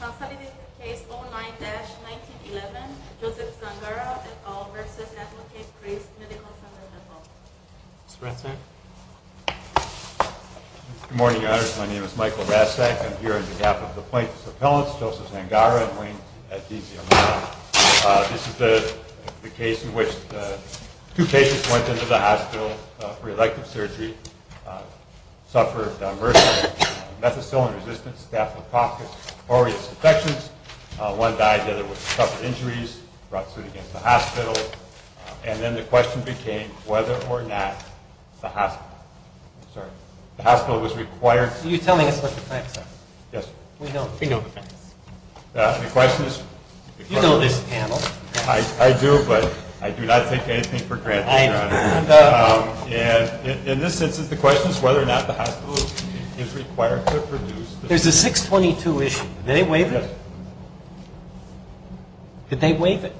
Consolidated case 09-1911, Joseph Zangara et al. v. Advocate Christ Medical Center, Nepal Mr. Rastak Good morning, your honors. My name is Michael Rastak. I'm here on behalf of the plaintiff's appellants, Joseph Zangara and Wayne Adesio. This is the case in which two patients went into the hospital for elective surgery, one of which suffered a mercury methicillin-resistant staphylococcus aureus infections, one died, the other suffered injuries, brought to the hospital, and then the question became whether or not the hospital was required. Are you telling us what the facts are? Yes. We know the facts. The question is... You know this panel. I do, but I do not take anything for granted, your honor. In this instance, the question is whether or not the hospital is required to produce... There's a 622 issue. Did they waive it? Yes. Did they waive it?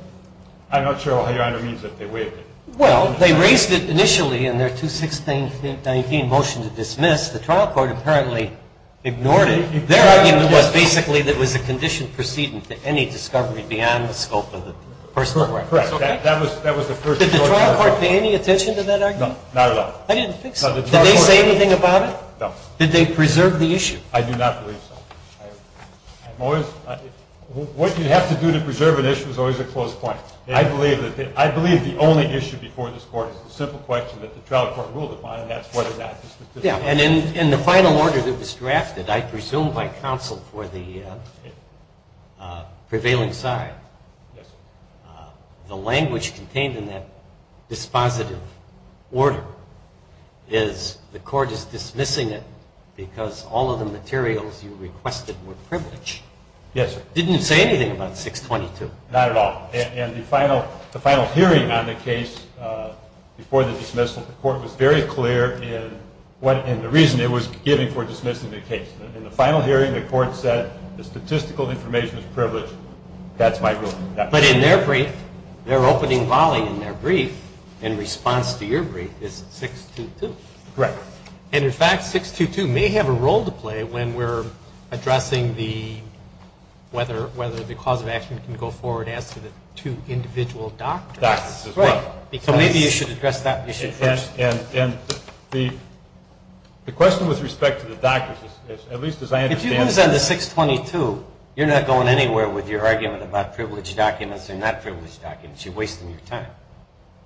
I'm not sure what your honor means if they waived it. Well, they raised it initially in their 216-19 motion to dismiss. The trial court apparently ignored it. Their argument was basically that it was a conditioned precedent to any discovery beyond the scope of the personal records. Correct. That was the first... Did the trial court pay any attention to that argument? No, not at all. I didn't think so. Did they say anything about it? No. Did they preserve the issue? I do not believe so. What you have to do to preserve an issue is always a close point. I believe the only issue before this court is the simple question that the trial court ruled upon, and that's whether or not... In the final order that was drafted, I presume by counsel for the prevailing side, the language contained in that dispositive order is the court is dismissing it because all of the materials you requested were privileged. Yes, sir. Didn't it say anything about 622? Not at all. And the final hearing on the case before the dismissal, the court was very clear in the reason it was giving for dismissing the case. In the final hearing, the court said the statistical information is privileged. That's my ruling. But in their brief, their opening volley in their brief, in response to your brief, is 622. Correct. And, in fact, 622 may have a role to play when we're addressing whether the cause of action can go forward as to the two individual doctors. Doctors as well. So maybe you should address that issue first. And the question with respect to the doctors, at least as I understand it... If you lose on the 622, you're not going anywhere with your argument about privileged documents or not privileged documents. You're wasting your time.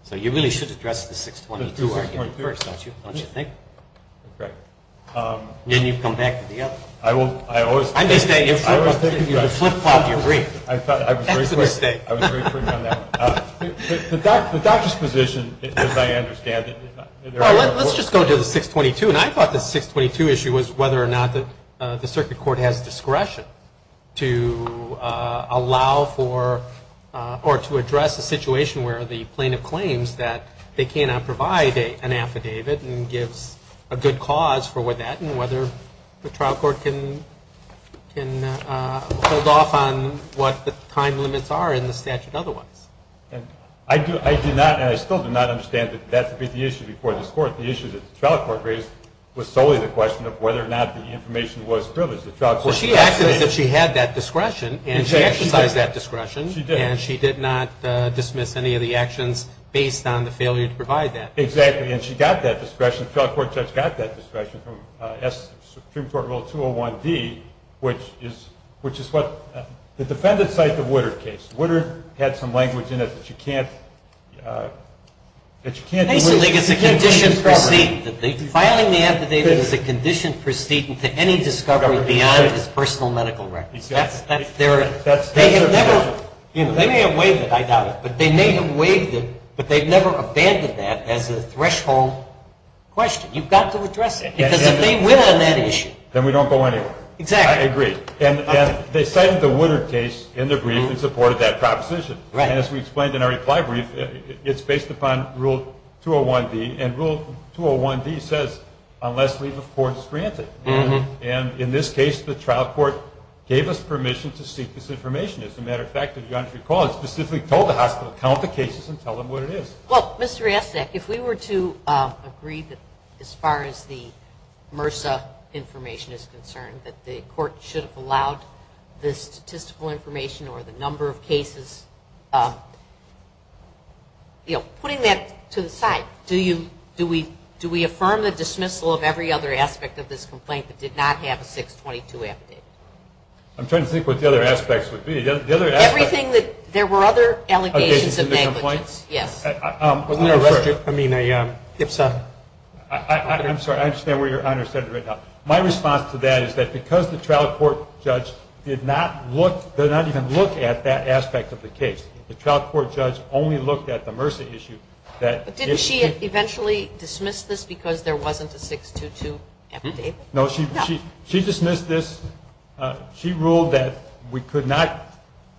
So you really should address the 622 argument first, don't you think? Correct. Then you've come back to the other. I always... I'm just saying, if you flip flop your brief, that's a mistake. I was very clear on that one. The doctor's position, as I understand it... Well, let's just go to the 622. And I thought the 622 issue was whether or not the circuit court has discretion to allow for or to address a situation where the plaintiff claims that they cannot provide an affidavit and gives a good cause for that and whether the trial court can hold off on what the time limits are in the statute otherwise. I do not, and I still do not understand that that should be the issue before this Court. The issue that the trial court raised was solely the question of whether or not the information was privileged. Well, she acted as if she had that discretion, and she exercised that discretion. She did. And she did not dismiss any of the actions based on the failure to provide that. Exactly. And she got that discretion. The trial court judge got that discretion from Supreme Court Rule 201D, which is what the defendants cite the Woodard case. Woodard had some language in it that you can't delete. Filing the affidavit is a condition precedent to any discovery beyond his personal medical records. They may have waived it, I doubt it, but they may have waived it, but they've never abandoned that as a threshold question. You've got to address it, because if they win on that issue. Then we don't go anywhere. Exactly. I agree. And they cited the Woodard case in their brief and supported that proposition. Right. And as we explained in our reply brief, it's based upon Rule 201D. And Rule 201D says, unless leave of course granted. And in this case, the trial court gave us permission to seek this information. As a matter of fact, if you don't recall, it specifically told the hospital, count the cases and tell them what it is. Well, Mr. Riaszak, if we were to agree that as far as the MRSA information is concerned, that the court should have allowed the statistical information or the number of cases, you know, putting that to the side, do we affirm the dismissal of every other aspect of this complaint that did not have a 622 affidavit? I'm trying to think what the other aspects would be. The other aspects. Everything that there were other allegations of negligence. Allegations of the complaints? Yes. I mean, it's a. I'm sorry. I understand what your Honor said right now. My response to that is that because the trial court judge did not look, did not even look at that aspect of the case, the trial court judge only looked at the MRSA issue. Didn't she eventually dismiss this because there wasn't a 622 affidavit? No. She dismissed this. She ruled that we could not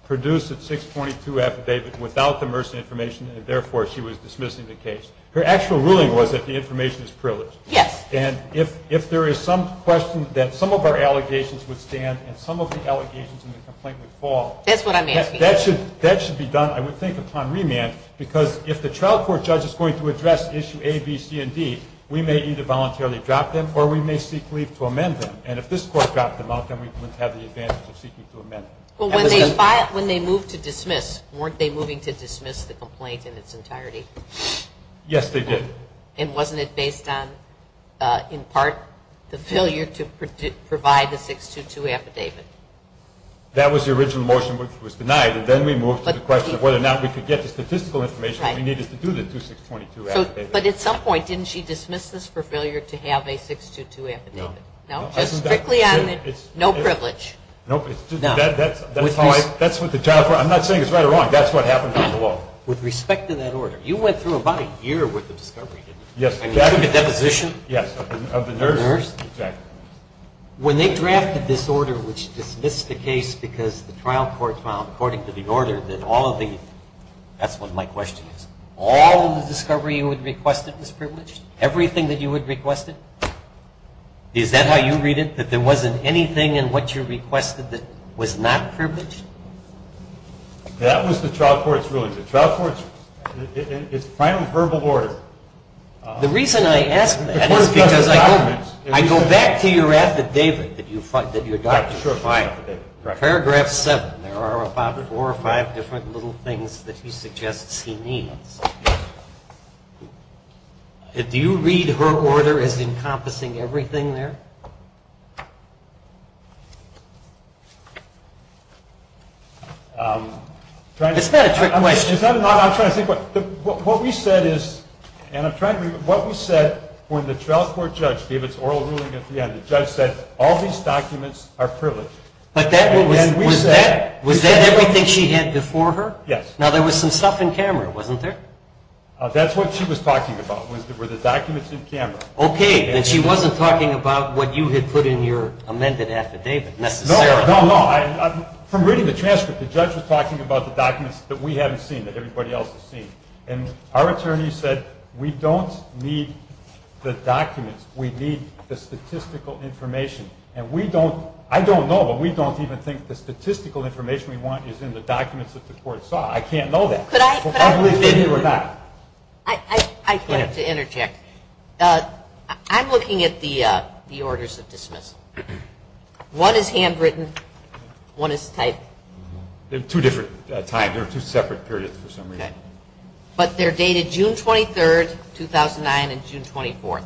produce a 622 affidavit without the MRSA information, and therefore she was dismissing the case. Her actual ruling was that the information is privileged. Yes. And if there is some question that some of our allegations would stand and some of the allegations in the complaint would fall. That's what I'm asking. That should be done, I would think, upon remand, because if the trial court judge is going to address issue A, B, C, and D, we may either voluntarily drop them or we may seek leave to amend them. And if this court dropped them out, then we wouldn't have the advantage of seeking to amend them. When they moved to dismiss, weren't they moving to dismiss the complaint in its entirety? Yes, they did. And wasn't it based on, in part, the failure to provide the 622 affidavit? That was the original motion which was denied, and then we moved to the question of whether or not we could get the statistical information we needed to do the 2622 affidavit. But at some point, didn't she dismiss this for failure to have a 622 affidavit? No. No? Just strictly on the no privilege? No. That's what the trial court – I'm not saying it's right or wrong. That's what happened under the law. With respect to that order, you went through about a year worth of discovery, didn't you? Yes, exactly. And you took a deposition? Yes, of the nurse. The nurse? Exactly. When they drafted this order which dismissed the case because the trial court found, according to the order, that all of the – that's what my question is – all of the discovery you had requested was privileged? Everything that you had requested? Is that how you read it? That there wasn't anything in what you requested that was not privileged? That was the trial court's ruling. The trial court's ruling. It's a final verbal order. The reason I ask that is because I go back to your affidavit that you adopted. Sure. Paragraph 7. There are about four or five different little things that he suggests he needs. Do you read her order as encompassing everything there? It's not a trick question. I'm trying to think. What we said is – and I'm trying to – what we said when the trial court judge gave its oral ruling at the end, the judge said, all these documents are privileged. Was that everything she had before her? Yes. Now, there was some stuff in camera, wasn't there? That's what she was talking about, were the documents in camera. Okay. And she wasn't talking about what you had put in your amended affidavit, necessarily. No, no, no. From reading the transcript, the judge was talking about the documents that we haven't seen, that everybody else has seen. And our attorney said, we don't need the documents. We need the statistical information. And we don't – I don't know, but we don't even think the statistical information we want is in the documents that the court saw. I can't know that. Could I – could I – I'd like to interject. I'm looking at the orders of dismissal. One is handwritten. One is typed. They're two different times. They're two separate periods for some reason. But they're dated June 23rd, 2009, and June 24th.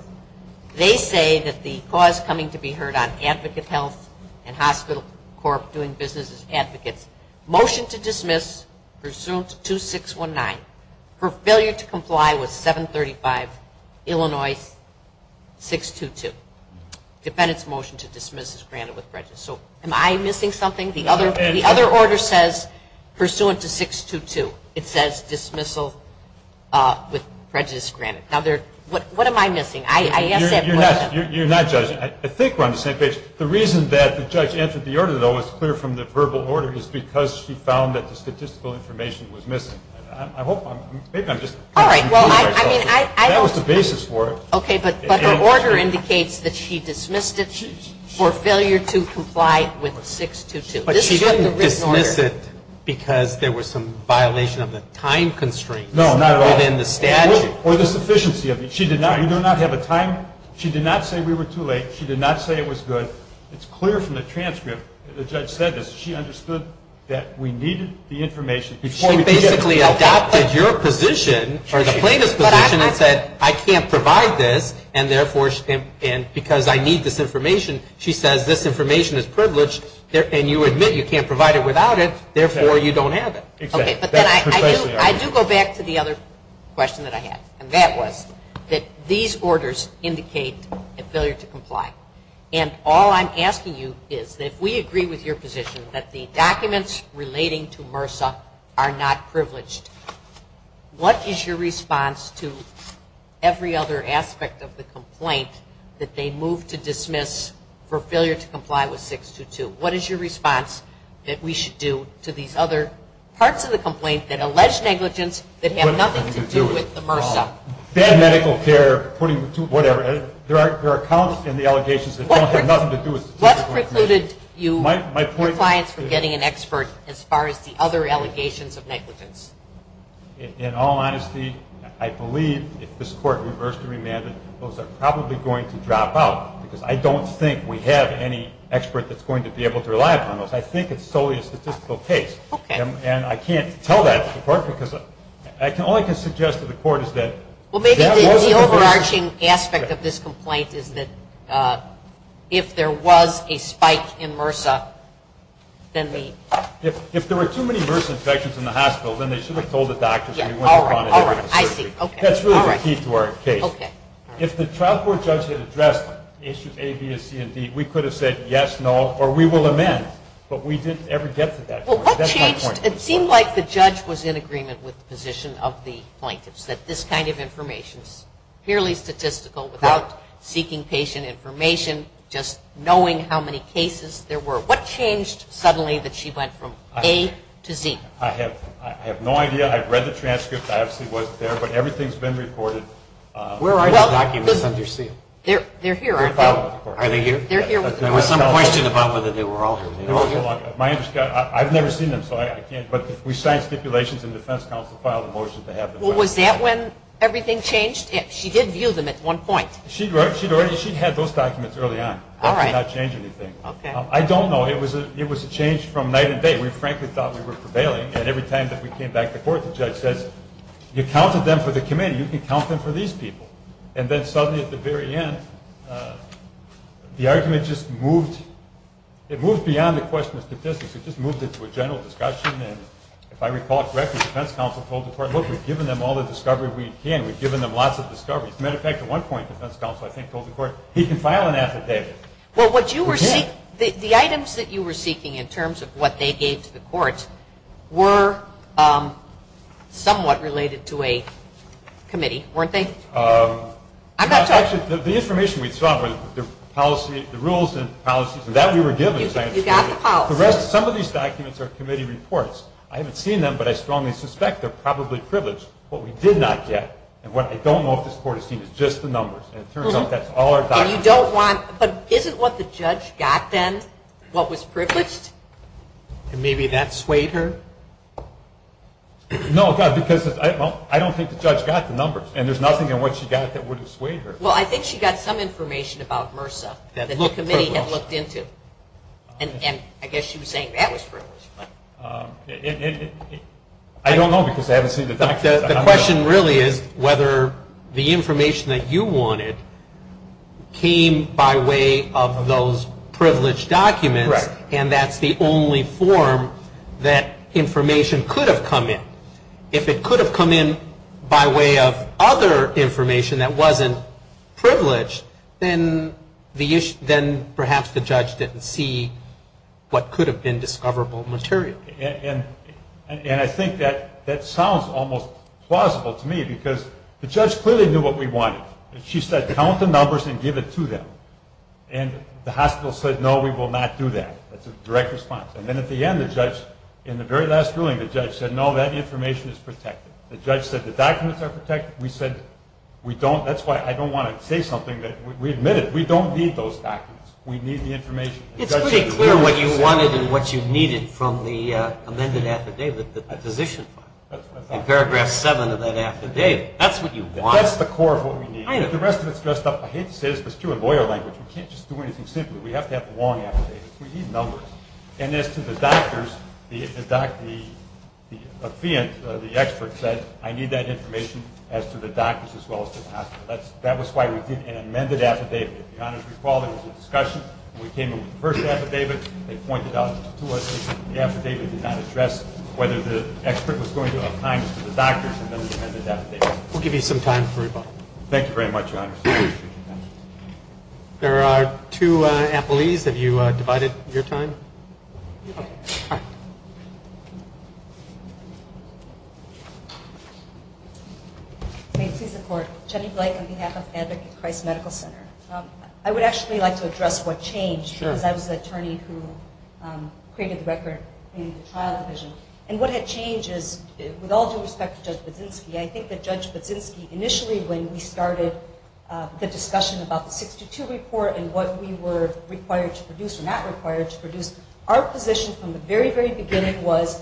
They say that the cause coming to be heard on Advocate Health and Hospital Corp. doing business as advocates, motion to dismiss pursuant to 2619, for failure to comply with 735 Illinois 622. Defendant's motion to dismiss is granted with prejudice. So am I missing something? The other order says pursuant to 622. It says dismissal with prejudice granted. Now, there – what am I missing? I asked that question. You're not judging. I think we're on the same page. The reason that the judge entered the order, though, is clear from the verbal order, is because she found that the statistical information was missing. I hope – maybe I'm just confusing myself. All right. Well, I mean, I don't – That was the basis for it. Okay. But her order indicates that she dismissed it for failure to comply with 622. But she didn't dismiss it because there was some violation of the time constraints. No, not at all. Within the statute. Or the sufficiency of it. She did not – you do not have a time – she did not say we were too late. She did not say it was good. It's clear from the transcript that the judge said this. She understood that we needed the information. She basically adopted your position, or the plaintiff's position, and said I can't provide this and, therefore, because I need this information, she says this information is privileged and you admit you can't provide it without it, therefore, you don't have it. Okay. But then I do go back to the other question that I had, and that was that these orders indicate a failure to comply. And all I'm asking you is that if we agree with your position that the documents relating to MRSA are not privileged, what is your response to every other aspect of the complaint that they move to dismiss for failure to comply with 622? What is your response that we should do to these other parts of the complaint that allege negligence that have nothing to do with the MRSA? Bad medical care, putting too – whatever. There are accounts in the allegations that don't have nothing to do with the MRSA. What precluded your clients from getting an expert as far as the other allegations of negligence? In all honesty, I believe if this Court reversed and remanded, those are probably going to drop out because I don't think we have any expert that's going to be able to rely on those. I think it's solely a statistical case. Okay. And I can't tell that to the Court because all I can suggest to the Court is that – Well, maybe the overarching aspect of this complaint is that if there was a spike in MRSA, then the – If there were too many MRSA infections in the hospital, then they should have told the doctors. All right, all right, I see. That's really the key to our case. If the trial court judge had addressed issues A, B, C, and D, we could have said yes, no, or we will amend, but we didn't ever get to that point. Well, what changed? It seemed like the judge was in agreement with the position of the plaintiffs that this kind of information is purely statistical without seeking patient information, just knowing how many cases there were. What changed suddenly that she went from A to Z? I have no idea. I've read the transcript. I obviously wasn't there, but everything's been reported. Where are the documents under seal? They're here, aren't they? They're filed with the Court. Are they here? There was some question about whether they were all here. I've never seen them, so I can't – but we signed stipulations and the defense counsel filed a motion to have them filed. Well, was that when everything changed? She did view them at one point. She had those documents early on. That did not change anything. I don't know. It was a change from night and day. We frankly thought we were prevailing, and every time that we came back to court, the judge says, you counted them for the committee. You can count them for these people. And then suddenly at the very end, the argument just moved. It moved beyond the question of statistics. It just moved into a general discussion, and if I recall correctly, the defense counsel told the court, look, we've given them all the discovery we can. We've given them lots of discoveries. As a matter of fact, at one point the defense counsel, I think, told the court, he can file an affidavit. The items that you were seeking in terms of what they gave to the court were somewhat related to a committee, weren't they? The information we saw was the rules and policies, and that we were given. You got the policy. Some of these documents are committee reports. I haven't seen them, but I strongly suspect they're probably privileged. What we did not get, and what I don't know if this court has seen, is just the numbers. And it turns out that's all our documents. But isn't what the judge got then what was privileged? Maybe that swayed her? No, because I don't think the judge got the numbers, and there's nothing in what she got that would have swayed her. Well, I think she got some information about MRSA that the committee had looked into. And I guess she was saying that was privileged. I don't know because I haven't seen the documents. The question really is whether the information that you wanted came by way of those privileged documents, and that's the only form that information could have come in. If it could have come in by way of other information that wasn't privileged, then perhaps the judge didn't see what could have been discoverable material. And I think that sounds almost plausible to me because the judge clearly knew what we wanted. She said, count the numbers and give it to them. And the hospital said, no, we will not do that. That's a direct response. And then at the end, the judge, in the very last ruling, the judge said, no, that information is protected. The judge said the documents are protected. We said we don't – that's why I don't want to say something that we admitted. We don't need those documents. We need the information. It's pretty clear what you wanted and what you needed from the amended affidavit, the position. In paragraph 7 of that affidavit. That's what you want. That's the core of what we need. I know. The rest of it is dressed up. I hate to say this, but it's true in lawyer language. We can't just do anything simply. We have to have the long affidavits. We need numbers. And as to the doctors, the doctor, the expert said, I need that information as to the doctors as well as to the hospital. That was why we did an amended affidavit. If you'll recall, there was a discussion when we came up with the first affidavit. They pointed out to us that the affidavit did not address whether the expert was going to assign this to the doctors and then the amended affidavit. We'll give you some time for rebuttal. Thank you very much, Your Honor. There are two appellees. Have you divided your time? Okay. May it please the Court. Jenny Blake on behalf of Advocate Christ Medical Center. I would actually like to address what changed because I was the attorney who created the record in the trial division. And what had changed is with all due respect to Judge Budzinski, I think that Judge Budzinski initially when we started the discussion about the 622 report and what we were required to produce or not required to produce, our position from the very, very beginning was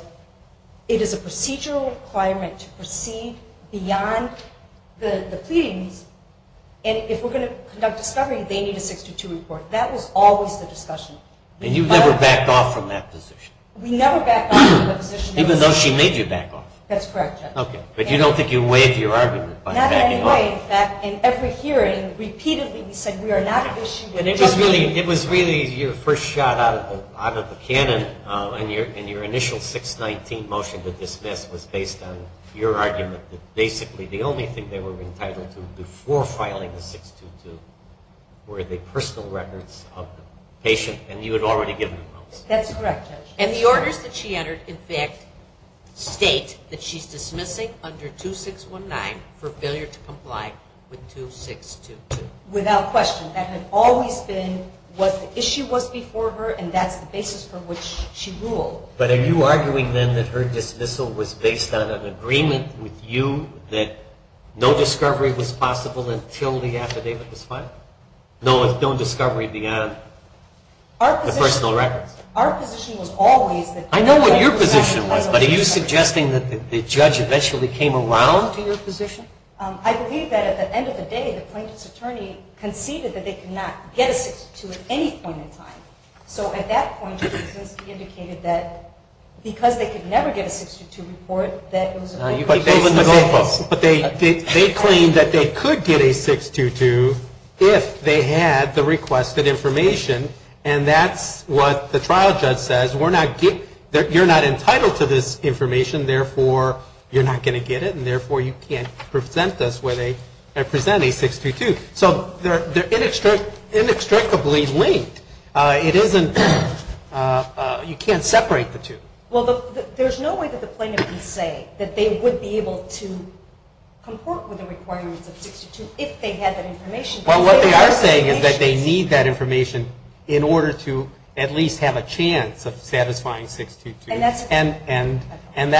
it is a procedural requirement to proceed beyond the pleadings. And if we're going to conduct discovery, they need a 622 report. That was always the discussion. And you never backed off from that position? We never backed off from the position. Even though she made you back off? That's correct, Judge. Okay. But you don't think you can waive your argument by backing off? Not in any way. In fact, in every hearing repeatedly we said we are not issuing. It was really your first shot out of the cannon. And your initial 619 motion to dismiss was based on your argument that basically the only thing they were entitled to before filing the 622 were the personal records of the patient. And you had already given them those. That's correct, Judge. And the orders that she entered, in fact, state that she's dismissing under 2619 for failure to comply with 2622. Without question. That had always been what the issue was before her, and that's the basis for which she ruled. But are you arguing, then, that her dismissal was based on an agreement with you that no discovery was possible until the affidavit was filed? Our position was always that the affidavit was possible. I know what your position was, but are you suggesting that the judge eventually came around to your position? I believe that at the end of the day, the plaintiff's attorney conceded that they could not get a 622 at any point in time. So at that point, the defense indicated that because they could never get a 622 report, that it was a goalpost. But they claimed that they could get a 622 if they had the requested information, and that's what the trial judge says. You're not entitled to this information, therefore you're not going to get it, and therefore you can't present a 622. So they're inextricably linked. You can't separate the two. Well, there's no way that the plaintiff can say that they would be able to comport with the requirements of 622 if they had that information. Well, what they are saying is that they need that information in order to at least have a chance of satisfying 622, and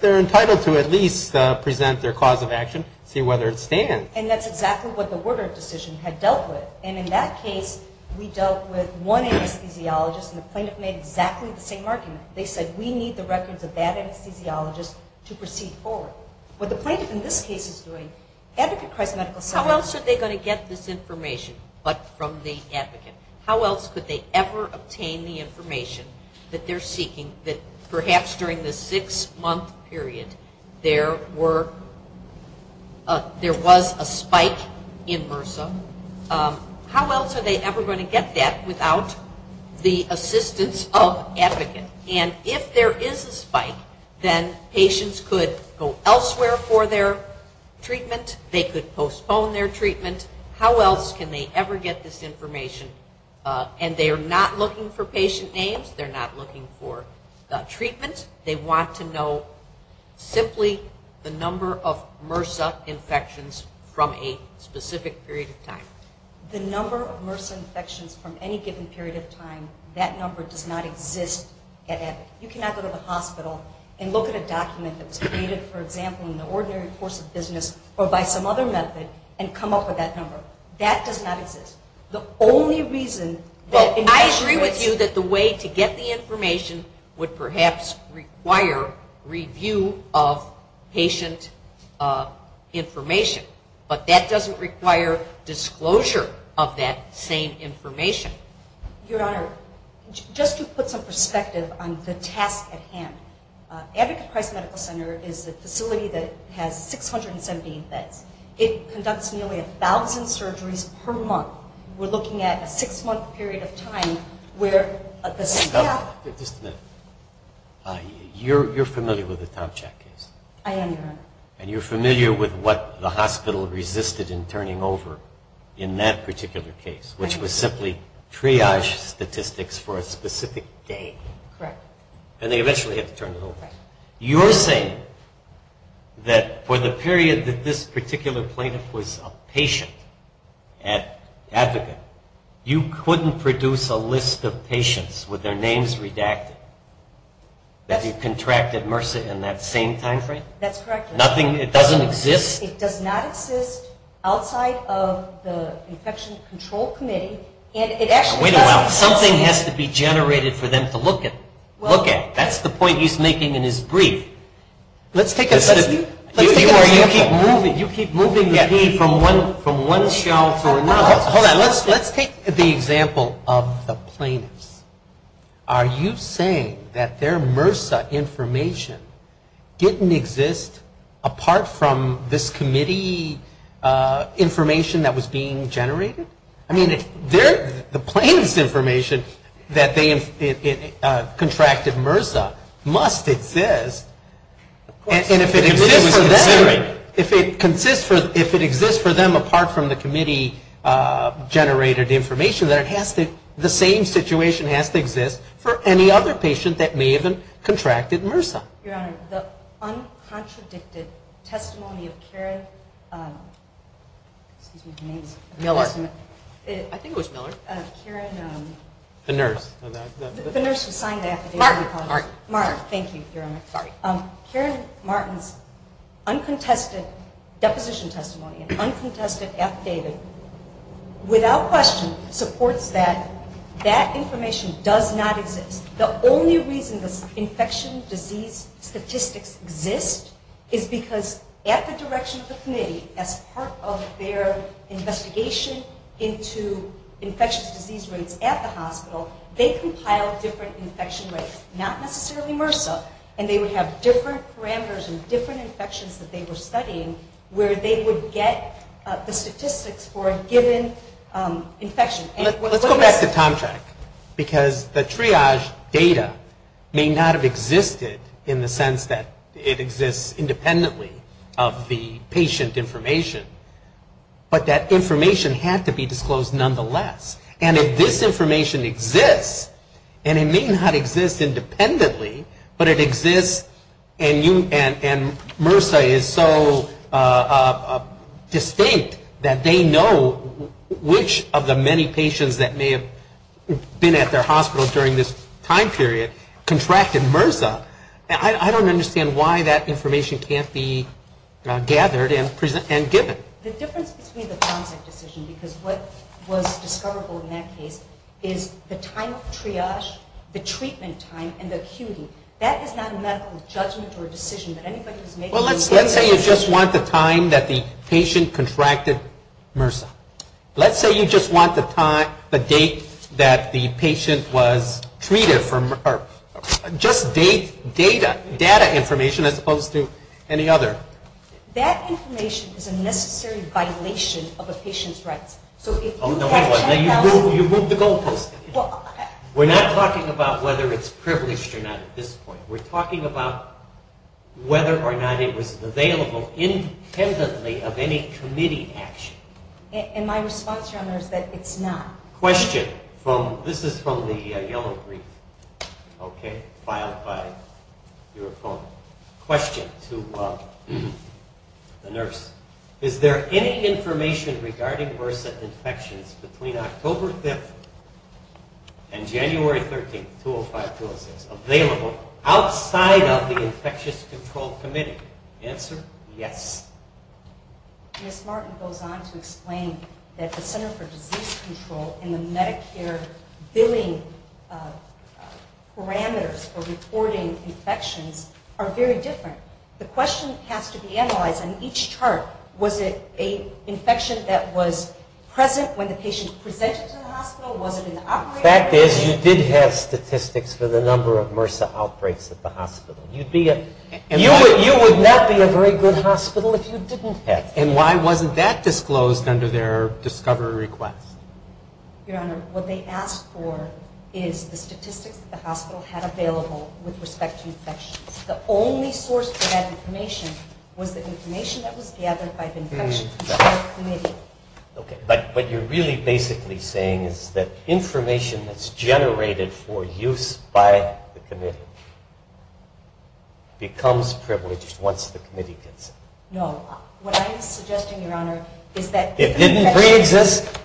they're entitled to at least present their cause of action, see whether it stands. And that's exactly what the Woodard decision had dealt with, and in that case, we dealt with one anesthesiologist, and the plaintiff made exactly the same argument. They said, we need the records of that anesthesiologist to proceed forward. What the plaintiff in this case is doing, Advocate Christ Medical Center... How else are they going to get this information but from the advocate? How else could they ever obtain the information that they're seeking that perhaps during the six-month period, there was a spike in MRSA? How else are they ever going to get that without the assistance of advocate? And if there is a spike, then patients could go elsewhere for their treatment. They could postpone their treatment. How else can they ever get this information? And they are not looking for patient names. They're not looking for treatment. They want to know simply the number of MRSA infections from a specific period of time. The number of MRSA infections from any given period of time, that number does not exist at Epic. You cannot go to the hospital and look at a document that was created, for example, in the ordinary course of business or by some other method and come up with that number. That does not exist. The only reason... Well, I agree with you that the way to get the information would perhaps require review of patient information. But that doesn't require disclosure of that same information. Your Honor, just to put some perspective on the task at hand, Advocate Christ Medical Center is a facility that has 617 beds. It conducts nearly 1,000 surgeries per month. We're looking at a 6-month period of time where the staff... Just a minute. You're familiar with the Tomchak case. I am, Your Honor. And you're familiar with what the hospital resisted in turning over in that particular case, which was simply triage statistics for a specific day. Correct. And they eventually had to turn it over. You're saying that for the period that this particular plaintiff was a patient at Advocate, you couldn't produce a list of patients with their names redacted, that you contracted MRSA in that same time frame? That's correct, Your Honor. It doesn't exist? It does not exist outside of the Infection Control Committee. Wait a minute. Something has to be generated for them to look at. That's the point he's making in his brief. You keep moving the key from one shelf to another. Hold on. Let's take the example of the plaintiffs. Are you saying that their MRSA information didn't exist apart from this committee information that was being generated? I mean, the plaintiff's information that they contracted MRSA must exist. And if it exists for them apart from the committee-generated information, then the same situation has to exist for any other patient that may have contracted MRSA. Your Honor, the uncontradicted testimony of Karen, excuse me for the name of the person. Miller. I think it was Miller. Karen. The nurse who signed the affidavit. Martin. Martin, thank you, Your Honor. Sorry. Karen Martin's uncontested deposition testimony, uncontested affidavit, without question, supports that that information does not exist. The only reason this infection disease statistics exist is because at the direction of the committee, as part of their investigation into infectious disease rates at the hospital, they compiled different infection rates, not necessarily MRSA, and they would have different parameters and different infections that they were studying where they would get the statistics for a given infection. Let's go back to Tomchak, because the triage data may not have existed in the sense that it exists independently of the patient information, but that information had to be disclosed nonetheless. And if this information exists, and it may not exist independently, but it exists and MRSA is so distinct that they know which of the many patients that may have been at their hospital during this time period contracted MRSA, I don't understand why that information can't be gathered and given. The difference between the Tomchak decision, because what was discoverable in that case, is the time of triage, the treatment time, and the acuity. That is not a medical judgment or decision that anybody was making. Well, let's say you just want the time that the patient contracted MRSA. Let's say you just want the date that the patient was treated, or just data information as opposed to any other. That information is a necessary violation of a patient's rights. So if you have check counts. You moved the goalpost. We're not talking about whether it's privileged or not at this point. We're talking about whether or not it was available independently of any committee action. And my response, Your Honor, is that it's not. Question. This is from the yellow brief, okay, filed by your opponent. Question to the nurse. Is there any information regarding MRSA infections between October 5th and January 13th, 2005-2006, available outside of the Infectious Control Committee? Answer, yes. Ms. Martin goes on to explain that the Center for Disease Control and the Medicare billing parameters for reporting infections are very different. The question has to be analyzed on each chart. Was it an infection that was present when the patient presented to the hospital? Was it an outbreak? The fact is you did have statistics for the number of MRSA outbreaks at the hospital. You would not be a very good hospital if you didn't have statistics. And why wasn't that disclosed under their discovery request? Your Honor, what they asked for is the statistics that the hospital had available with respect to infections. The only source for that information was the information that was gathered by the Infectious Control Committee. Okay. But what you're really basically saying is that information that's generated for use by the committee becomes privileged once the committee gets it. No. What I am suggesting, Your Honor, is that it didn't preexist.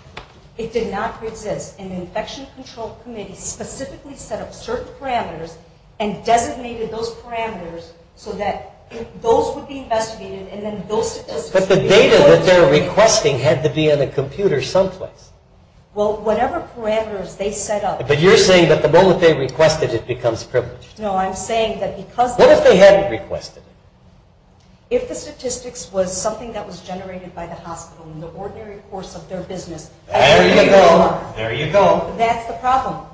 It did not preexist. And the Infection Control Committee specifically set up certain parameters and designated those parameters so that those would be investigated and then those statistics. But the data that they're requesting had to be on a computer someplace. Well, whatever parameters they set up. But you're saying that the moment they requested it becomes privileged. No. I'm saying that because of that. What if they hadn't requested it? If the statistics was something that was generated by the hospital in the ordinary course of their business. There you go. There you go. That's the problem.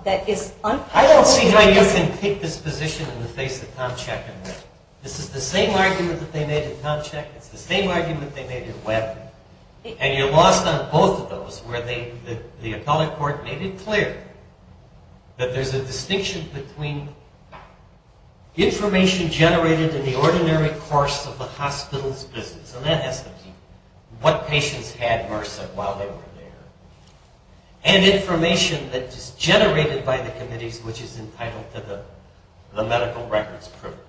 I don't see how you can take this position in the face of Tom Check and Webb. It's the same argument they made with Webb. And you're lost on both of those where the appellate court made it clear that there's a distinction between information generated in the ordinary course of the hospital's business. And that has to do with what patients had MRSA while they were there. And information that is generated by the committees which is entitled to the medical records privilege.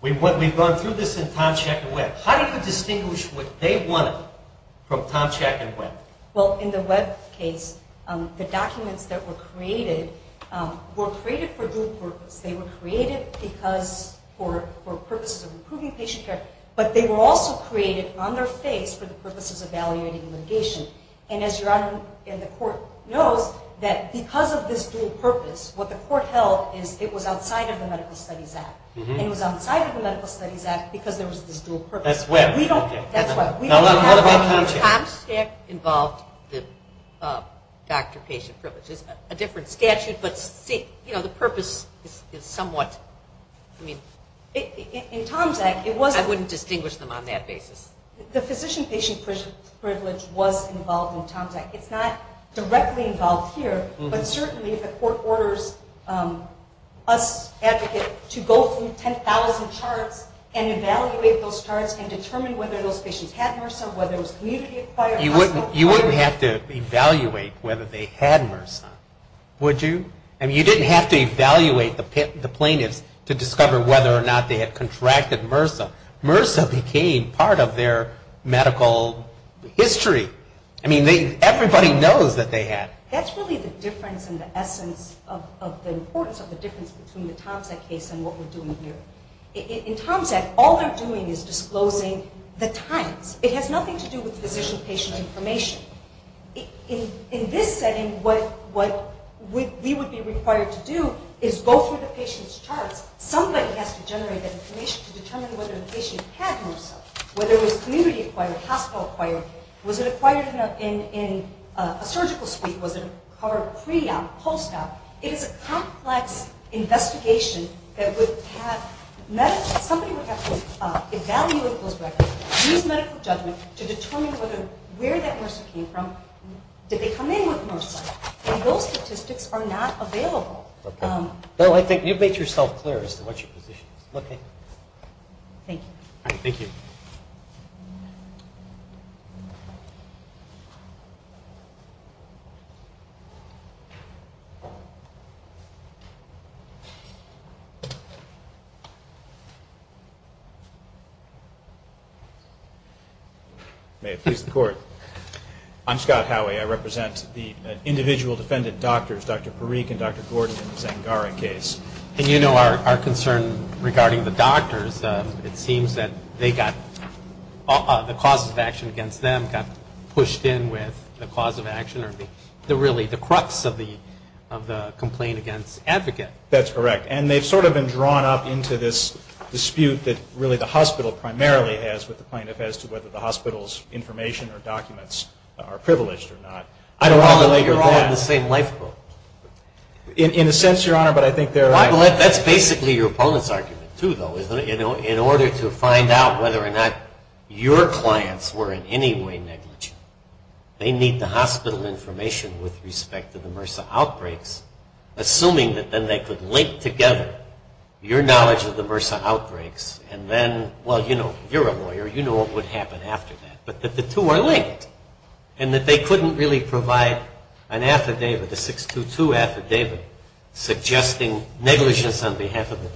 We've gone through this in Tom Check and Webb. How do you distinguish what they wanted from Tom Check and Webb? Well, in the Webb case, the documents that were created were created for dual purpose. They were created for purposes of improving patient care. But they were also created on their face for the purposes of evaluating litigation. And as your Honor and the court knows, that because of this dual purpose, what the court held is it was outside of the Medical Studies Act. And it was outside of the Medical Studies Act because there was this dual purpose. That's Webb. That's Webb. What about Tom Check? Tom Check involved the doctor-patient privilege. It's a different statute, but the purpose is somewhat. In Tom's Act, it wasn't. I wouldn't distinguish them on that basis. The physician-patient privilege was involved in Tom's Act. It's not directly involved here. But certainly if the court orders us advocate to go through 10,000 charts and evaluate those charts and determine whether those patients had MRSA, whether it was community-acquired, hospital-acquired. You wouldn't have to evaluate whether they had MRSA, would you? I mean, you didn't have to evaluate the plaintiffs to discover whether or not they had contracted MRSA. MRSA became part of their medical history. I mean, everybody knows that they had. That's really the difference and the essence of the importance of the difference between the Tom's Act case and what we're doing here. In Tom's Act, all they're doing is disclosing the times. It has nothing to do with physician-patient information. In this setting, what we would be required to do is go through the patient's charts. Somebody has to generate that information to determine whether the patient had MRSA, whether it was community-acquired, hospital-acquired. Was it acquired in a surgical suite? Was it acquired pre-op, post-op? It is a complex investigation. Somebody would have to evaluate those records, use medical judgment to determine where that MRSA came from. Did they come in with MRSA? Those statistics are not available. I think you've made yourself clear as to what your position is. Thank you. Thank you. May it please the Court. I'm Scott Howey. I represent the individual defendant doctors, Dr. Parikh and Dr. Gordon, in the Zangara case. And you know our concern regarding the doctors. It seems that the causes of action against them got pushed in with the cause of action or really the crux of the complaint against advocate. That's correct. And they've sort of been drawn up into this dispute that really the hospital primarily has with the plaintiff as to whether the hospital's information or documents are privileged or not. I don't believe that. You're all in the same lifeboat. In a sense, Your Honor, but I think there are. That's basically your opponent's argument, too, though, isn't it? In order to find out whether or not your clients were in any way negligent, they need the hospital information with respect to the MRSA outbreaks, assuming that then they could link together your knowledge of the MRSA outbreaks and then, well, you know, you're a lawyer. You know what would happen after that. But that the two are linked and that they couldn't really provide an affidavit, a 622 affidavit, suggesting negligence on behalf of the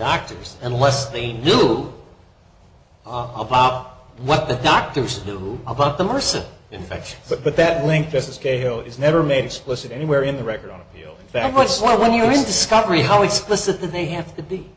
But that link, Justice Cahill, is never made explicit anywhere in the record on appeal. When you're in discovery, how explicit do they have to be?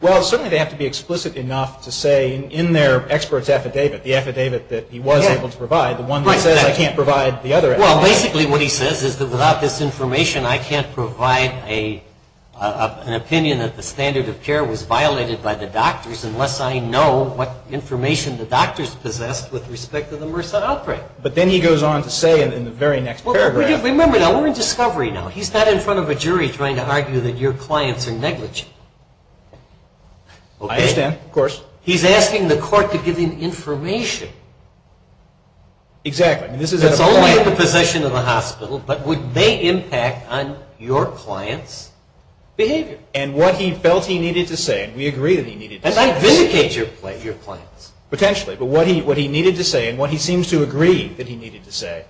Well, certainly they have to be explicit enough to say in their expert's affidavit, the affidavit that he was able to provide, the one that says I can't provide the other affidavit. Well, basically what he says is that without this information I can't provide an opinion that the standard of care was violated by the doctors unless I know what information the doctors possessed with respect to the patient. But then he goes on to say in the very next paragraph. Remember, we're in discovery now. He's not in front of a jury trying to argue that your clients are negligent. I understand, of course. He's asking the court to give him information. Exactly. It's only the possession of the hospital, but would they impact on your client's behavior. And what he felt he needed to say, and we agree that he needed to say this. And vindicate your clients. Potentially. Potentially. But what he needed to say and what he seems to agree that he needed to say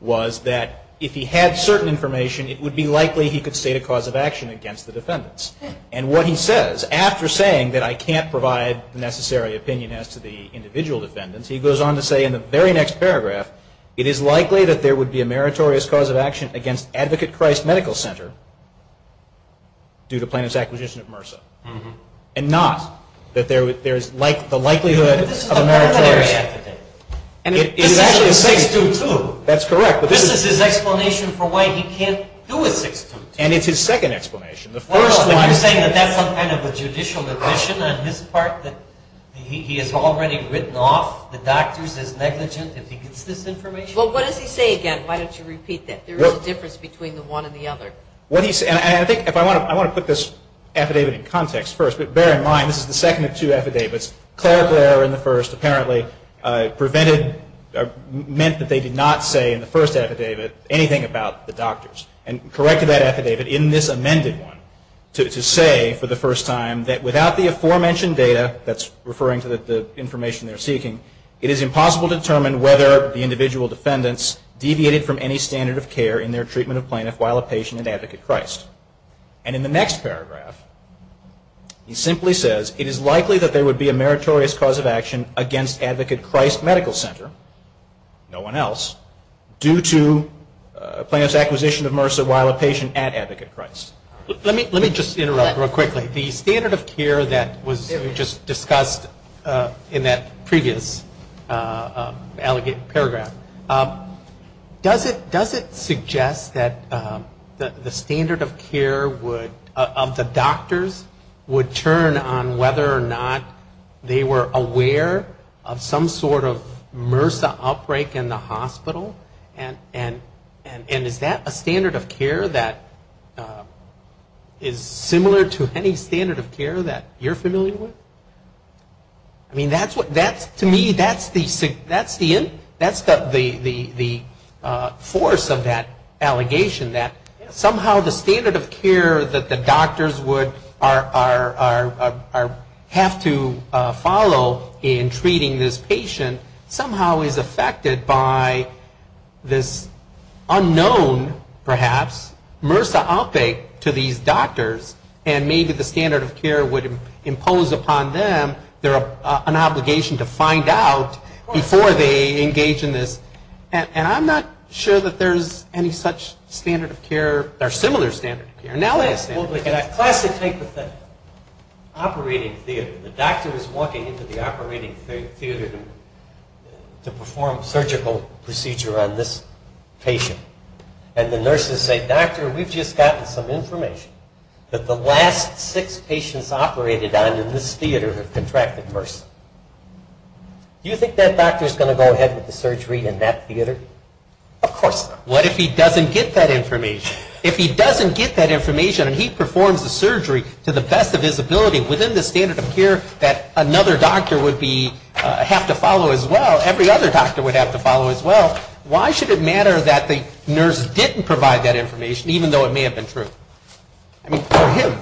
was that if he had certain information, it would be likely he could state a cause of action against the defendants. And what he says, after saying that I can't provide the necessary opinion as to the individual defendants, he goes on to say in the very next paragraph, it is likely that there would be a meritorious cause of action against Advocate Christ Medical Center due to plaintiff's acquisition of MRSA. And not that there is the likelihood of a meritorious. But this is a preliminary affidavit. This is a 6-2-2. That's correct. This is his explanation for why he can't do a 6-2-2. And it's his second explanation. Well, I'm saying that that's some kind of a judicial admission on his part that he has already written off the doctors as negligent if he gets this information. Well, what does he say again? Why don't you repeat that? There is a difference between the one and the other. And I think if I want to put this affidavit in context first, but bear in mind this is the second of two affidavits. Clerical error in the first apparently prevented, meant that they did not say in the first affidavit anything about the doctors. And corrected that affidavit in this amended one to say for the first time that without the aforementioned data, that's referring to the information they're seeking, it is impossible to determine whether the individual defendants deviated from any standard of care in their treatment of plaintiff while a patient at Advocate Christ. And in the next paragraph, he simply says, it is likely that there would be a meritorious cause of action against Advocate Christ Medical Center, no one else, due to plaintiff's acquisition of MRSA while a patient at Advocate Christ. Let me just interrupt real quickly. The standard of care that was just discussed in that previous alleged case, does it suggest that the standard of care would, of the doctors would turn on whether or not they were aware of some sort of MRSA outbreak in the hospital? And is that a standard of care that is similar to any standard of care that you're familiar with? I mean, to me, that's the force of that allegation, that somehow the standard of care that the doctors would have to follow in treating this patient somehow is affected by this unknown, perhaps, MRSA outbreak to these doctors, and maybe the standard of care would impose upon them an obligation to find out before they engage in this. And I'm not sure that there's any such standard of care, or similar standard of care. Classic type of thing, operating theater. The doctor is walking into the operating theater to perform surgical procedure on this patient, and the nurses say, Doctor, we've just gotten some information that the last six patients operated on in this theater have contracted MRSA. Do you think that doctor is going to go ahead with the surgery in that theater? Of course not. What if he doesn't get that information? If he doesn't get that information and he performs the surgery to the best of his ability within the standard of care that another doctor would be, have to follow as well, every other doctor would have to follow as well, why should it matter that the nurse didn't provide that information, even though it may have been true? I mean, for him.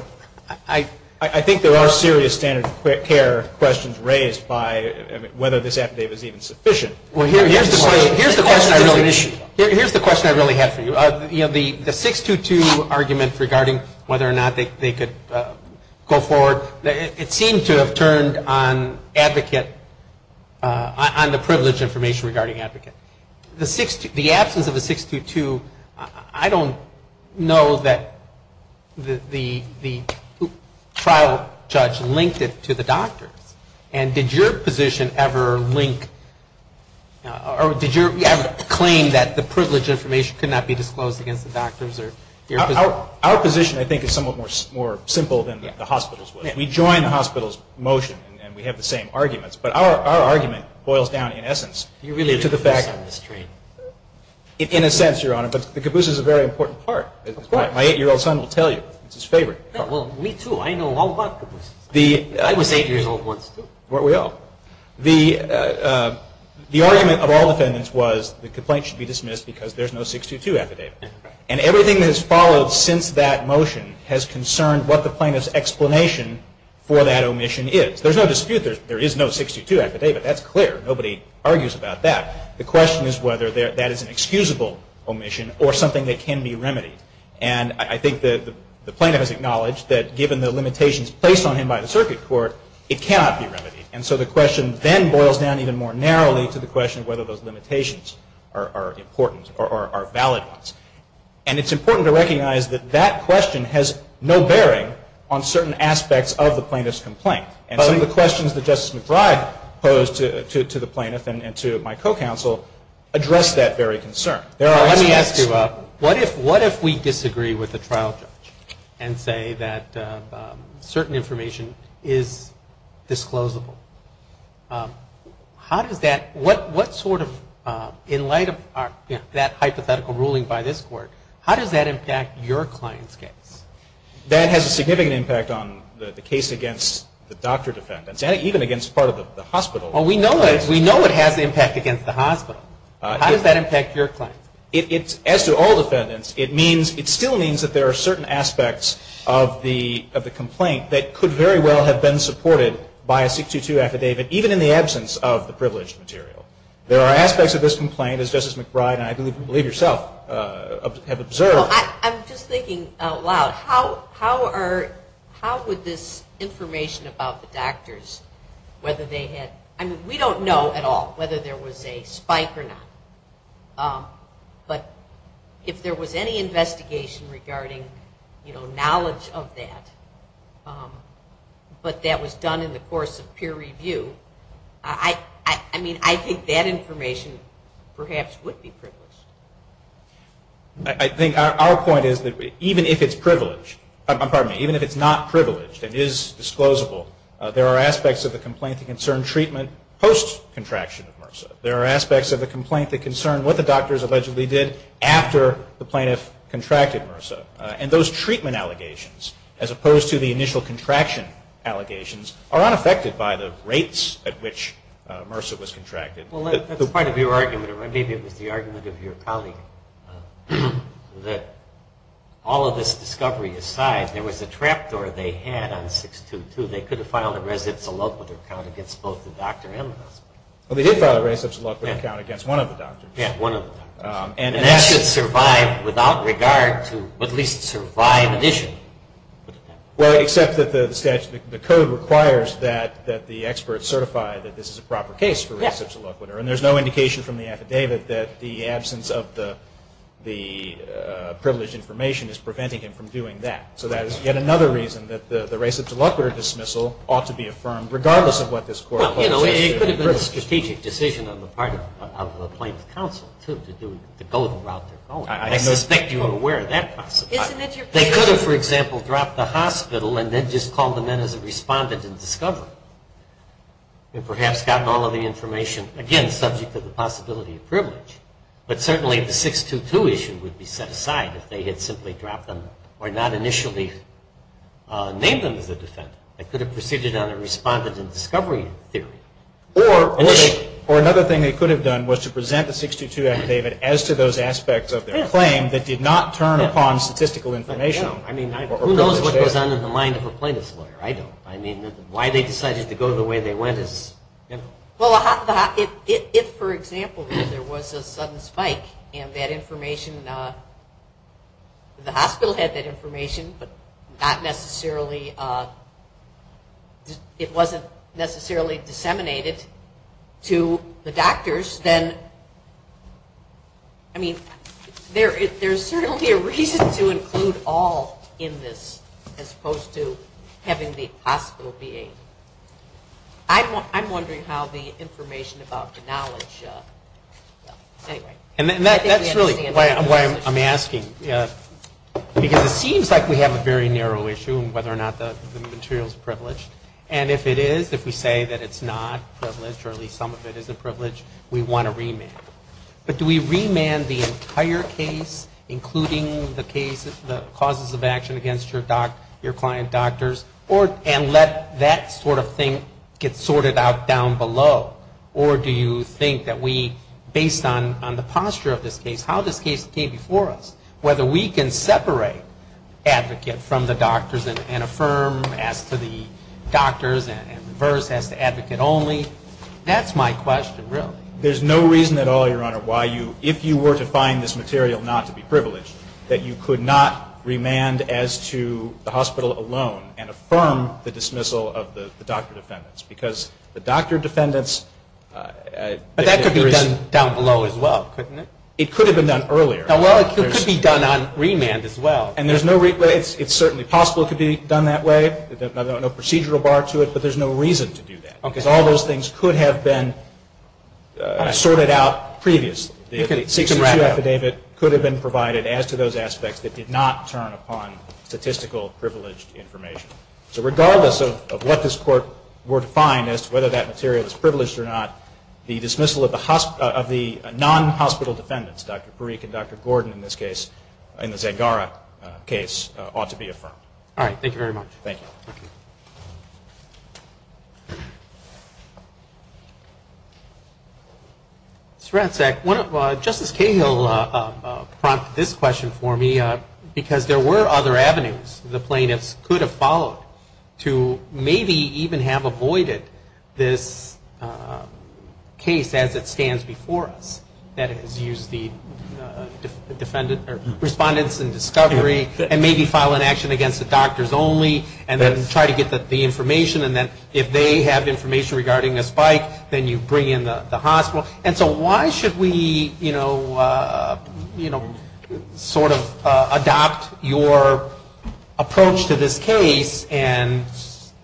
I think there are serious standard of care questions raised by whether this affidavit is even sufficient. Here's the question I really have for you. The 622 argument regarding whether or not they could go forward, it seemed to have turned on advocate, on the privilege information regarding advocate. The absence of the 622, I don't know that the trial judge linked it to the doctors. And did your position ever link, or did you ever claim that the privilege information could not be disclosed against the doctors? Our position, I think, is somewhat more simple than the hospital's was. We join the hospital's motion and we have the same arguments. But our argument boils down, in essence, to the fact that the caboose is a very important part. My eight-year-old son will tell you it's his favorite. Well, me too. I know all about cabooses. I was eight years old once, too. Weren't we all? The argument of all defendants was the complaint should be dismissed because there's no 622 affidavit. And everything that has followed since that motion has concerned what the justification for that omission is. There's no dispute there is no 622 affidavit. That's clear. Nobody argues about that. The question is whether that is an excusable omission or something that can be remedied. And I think the plaintiff has acknowledged that given the limitations placed on him by the circuit court, it cannot be remedied. And so the question then boils down even more narrowly to the question of whether those limitations are important or are valid ones. And it's important to recognize that that question has no bearing on certain aspects of the plaintiff's complaint. And some of the questions that Justice McBride posed to the plaintiff and to my co-counsel address that very concern. Let me ask you, what if we disagree with the trial judge and say that certain information is disclosable? How does that, what sort of, in light of that hypothetical ruling by this court, how does that impact your client's case? That has a significant impact on the case against the doctor defendants and even against part of the hospital. We know it has impact against the hospital. How does that impact your client? As to all defendants, it still means that there are certain aspects of the issue affidavit, even in the absence of the privileged material. There are aspects of this complaint, as Justice McBride and I believe yourself have observed. I'm just thinking out loud. How are, how would this information about the doctors, whether they had, I mean, we don't know at all whether there was a spike or not. But if there was any investigation regarding, you know, knowledge of that, but that was done in the course of peer review, I mean, I think that information perhaps would be privileged. I think our point is that even if it's privileged, pardon me, even if it's not privileged and is disclosable, there are aspects of the complaint that concern treatment post-contraction of MRSA. There are aspects of the complaint that concern what the doctors allegedly did after the plaintiff contracted MRSA. And those treatment allegations, as opposed to the initial contraction allegations, are unaffected by the rates at which MRSA was contracted. Well, that's part of your argument, or maybe it was the argument of your colleague, that all of this discovery aside, there was a trap door they had on 622. They could have filed a res ipsa locator count against both the doctor and the hospital. Well, they did file a res ipsa locator count against one of the doctors. Yeah, one of them. And that should survive without regard to at least survive an issue. Well, except that the statute, the code requires that the expert certify that this is a proper case for res ipsa locator. And there's no indication from the affidavit that the absence of the privileged information is preventing him from doing that. So that is yet another reason that the res ipsa locator dismissal ought to be affirmed regardless of what this court holds. Well, you know, it could have been a strategic decision on the part of the plaintiff's counsel, too, to go the route they're going. I suspect you are aware of that possibility. They could have, for example, dropped the hospital and then just called them in as a respondent in discovery and perhaps gotten all of the information, again, subject to the possibility of privilege. But certainly the 622 issue would be set aside if they had simply dropped them or not initially named them as a defendant. They could have proceeded on a respondent in discovery theory. Or another thing they could have done was to present the 622 affidavit as to those aspects of their claim that did not turn upon statistical information. I mean, who knows what goes on in the mind of a plaintiff's lawyer? I don't. I mean, why they decided to go the way they went is. Well, if, for example, there was a sudden spike in that information, the hospital had that information, but not necessarily, it wasn't necessarily disseminated to the doctors, then, I mean, there's certainly a reason to include all in this as opposed to having the hospital be a. I'm wondering how the information about the knowledge, anyway. And that's really why I'm asking. Because it seems like we have a very narrow issue in whether or not the material is privileged. And if it is, if we say that it's not privileged or at least some of it isn't privileged, we want to remand. But do we remand the entire case, including the cases, the causes of action against your client doctors, and let that sort of thing get sorted out down below? Or do you think that we, based on the posture of this case, how this case came before us, whether we can separate advocate from the doctors and affirm as to the doctors and reverse as to advocate only? That's my question, really. There's no reason at all, Your Honor, why you, if you were to find this material not to be privileged, that you could not remand as to the hospital alone and affirm the dismissal of the doctor defendants. Because the doctor defendants But that could be done down below as well, couldn't it? It could have been done earlier. Well, it could be done on remand as well. It's certainly possible it could be done that way. There's no procedural bar to it. But there's no reason to do that. Because all those things could have been sorted out previously. The 62 affidavit could have been provided as to those aspects that did not turn upon statistical privileged information. So regardless of what this Court were to find as to whether that material is non-hospital defendants, Dr. Parikh and Dr. Gordon, in this case, in the Zegara case, ought to be affirmed. All right. Thank you very much. Thank you. Justice Cahill prompted this question for me because there were other avenues the plaintiffs could have followed to maybe even have avoided this case as it stands before us. That is, use the respondents in discovery and maybe file an action against the doctors only. And then try to get the information. And then if they have information regarding a spike, then you bring in the hospital. And so why should we, you know, sort of adopt your approach to this case and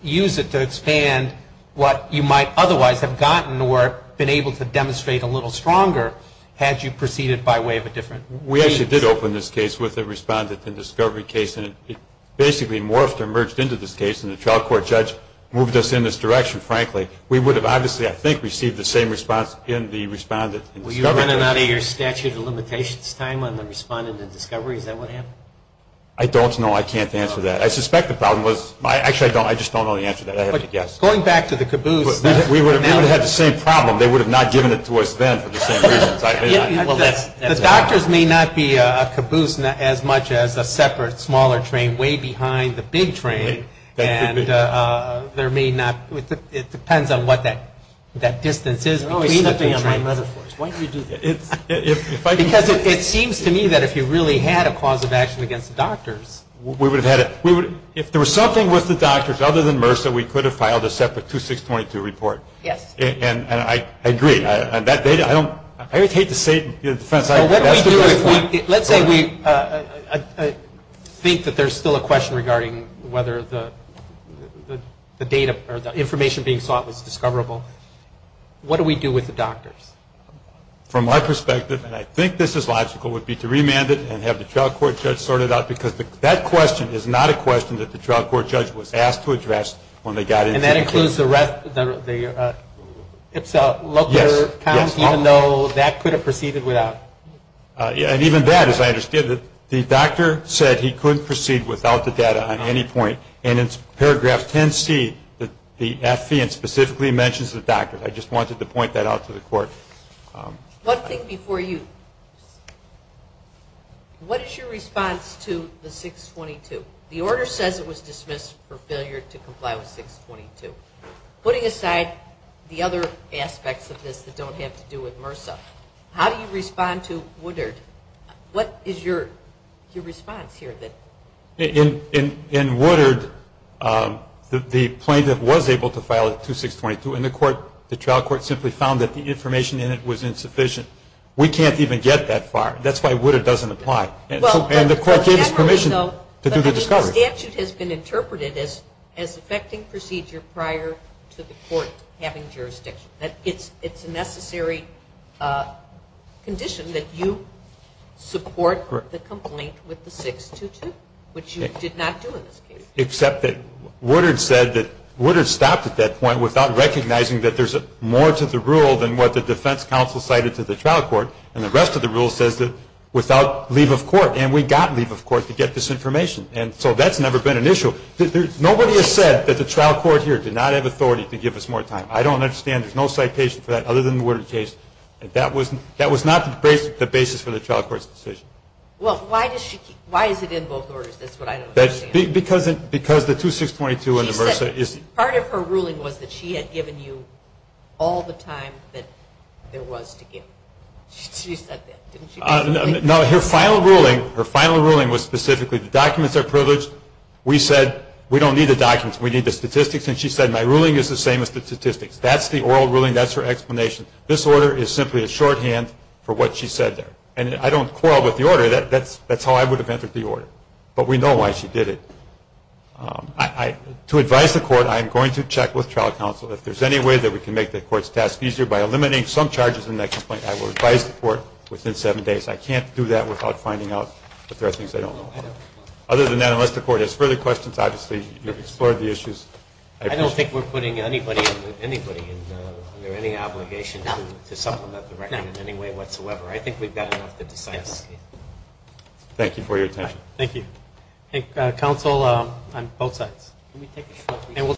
use it to expand what you might otherwise have gotten or been able to demonstrate a little stronger? Had you proceeded by way of a different means? We actually did open this case with a respondent in discovery case. And it basically morphed or merged into this case. And the trial court judge moved us in this direction, frankly. We would have obviously, I think, received the same response in the respondent in discovery. Were you running out of your statute of limitations time on the respondent in discovery? Is that what happened? I don't know. I can't answer that. I suspect the problem was, actually, I just don't know the answer to that. I have to guess. Going back to the caboose. We would have had the same problem. They would have not given it to us then for the same reasons. The doctors may not be a caboose as much as a separate, smaller train way behind the big train. It depends on what that distance is. Why do you do that? Because it seems to me that if you really had a cause of action against the doctors. If there was something with the doctors other than MRSA, we could have filed a separate 2622 report. And I agree. I hate to say it in defense. Let's say we think that there is still a question regarding whether the data or the information being sought was discoverable. What do we do with the doctors? From my perspective, and I think this is logical, would be to remand it and have the trial court judge sort it out. Because that question is not a question that the trial court judge was asked to address when they got into the case. And that includes the local county, even though that could have proceeded without? And even that, as I understand it, the doctor said he couldn't proceed without the data on any point. And in paragraph 10C, the FVN specifically mentions the doctors. I just wanted to point that out to the court. One thing before you. What is your response to the 622? The order says it was dismissed for failure to comply with 622. Putting aside the other aspects of this that don't have to do with MRSA, how do you respond to the 622? How do you respond to Woodard? What is your response here? In Woodard, the plaintiff was able to file a 2622, and the trial court simply found that the information in it was insufficient. We can't even get that far. That's why Woodard doesn't apply. And the court gave us permission to do the discovery. But the statute has been interpreted as effecting procedure prior to the court having jurisdiction. It's a necessary condition that you support the complaint with the 622, which you did not do in this case. Except that Woodard said that Woodard stopped at that point without recognizing that there's more to the rule than what the defense counsel cited to the trial court. And the rest of the rule says that without leave of court. And we got leave of court to get this information. And so that's never been an issue. Nobody has said that the trial court here did not have authority to give us more time. I don't understand. There's no citation for that other than the Woodard case. That was not the basis for the trial court's decision. Well, why is it in both orders? That's what I don't understand. Because the 2622 and the MRSA is – She said part of her ruling was that she had given you all the time that there was to give. She said that, didn't she? No, her final ruling was specifically the documents are privileged. We said we don't need the documents. We need the statistics. And she said my ruling is the same as the statistics. That's the oral ruling. That's her explanation. This order is simply a shorthand for what she said there. And I don't quarrel with the order. That's how I would have entered the order. But we know why she did it. To advise the court, I am going to check with trial counsel. If there's any way that we can make the court's task easier by eliminating some charges in that complaint, I will advise the court within seven days. I can't do that without finding out that there are things I don't know. Other than that, unless the court has further questions, obviously, you've explored the issues. I don't think we're putting anybody under any obligation to supplement the record in any way whatsoever. I think we've got enough to decide. Thank you for your attention. Thank you. Counsel, on both sides.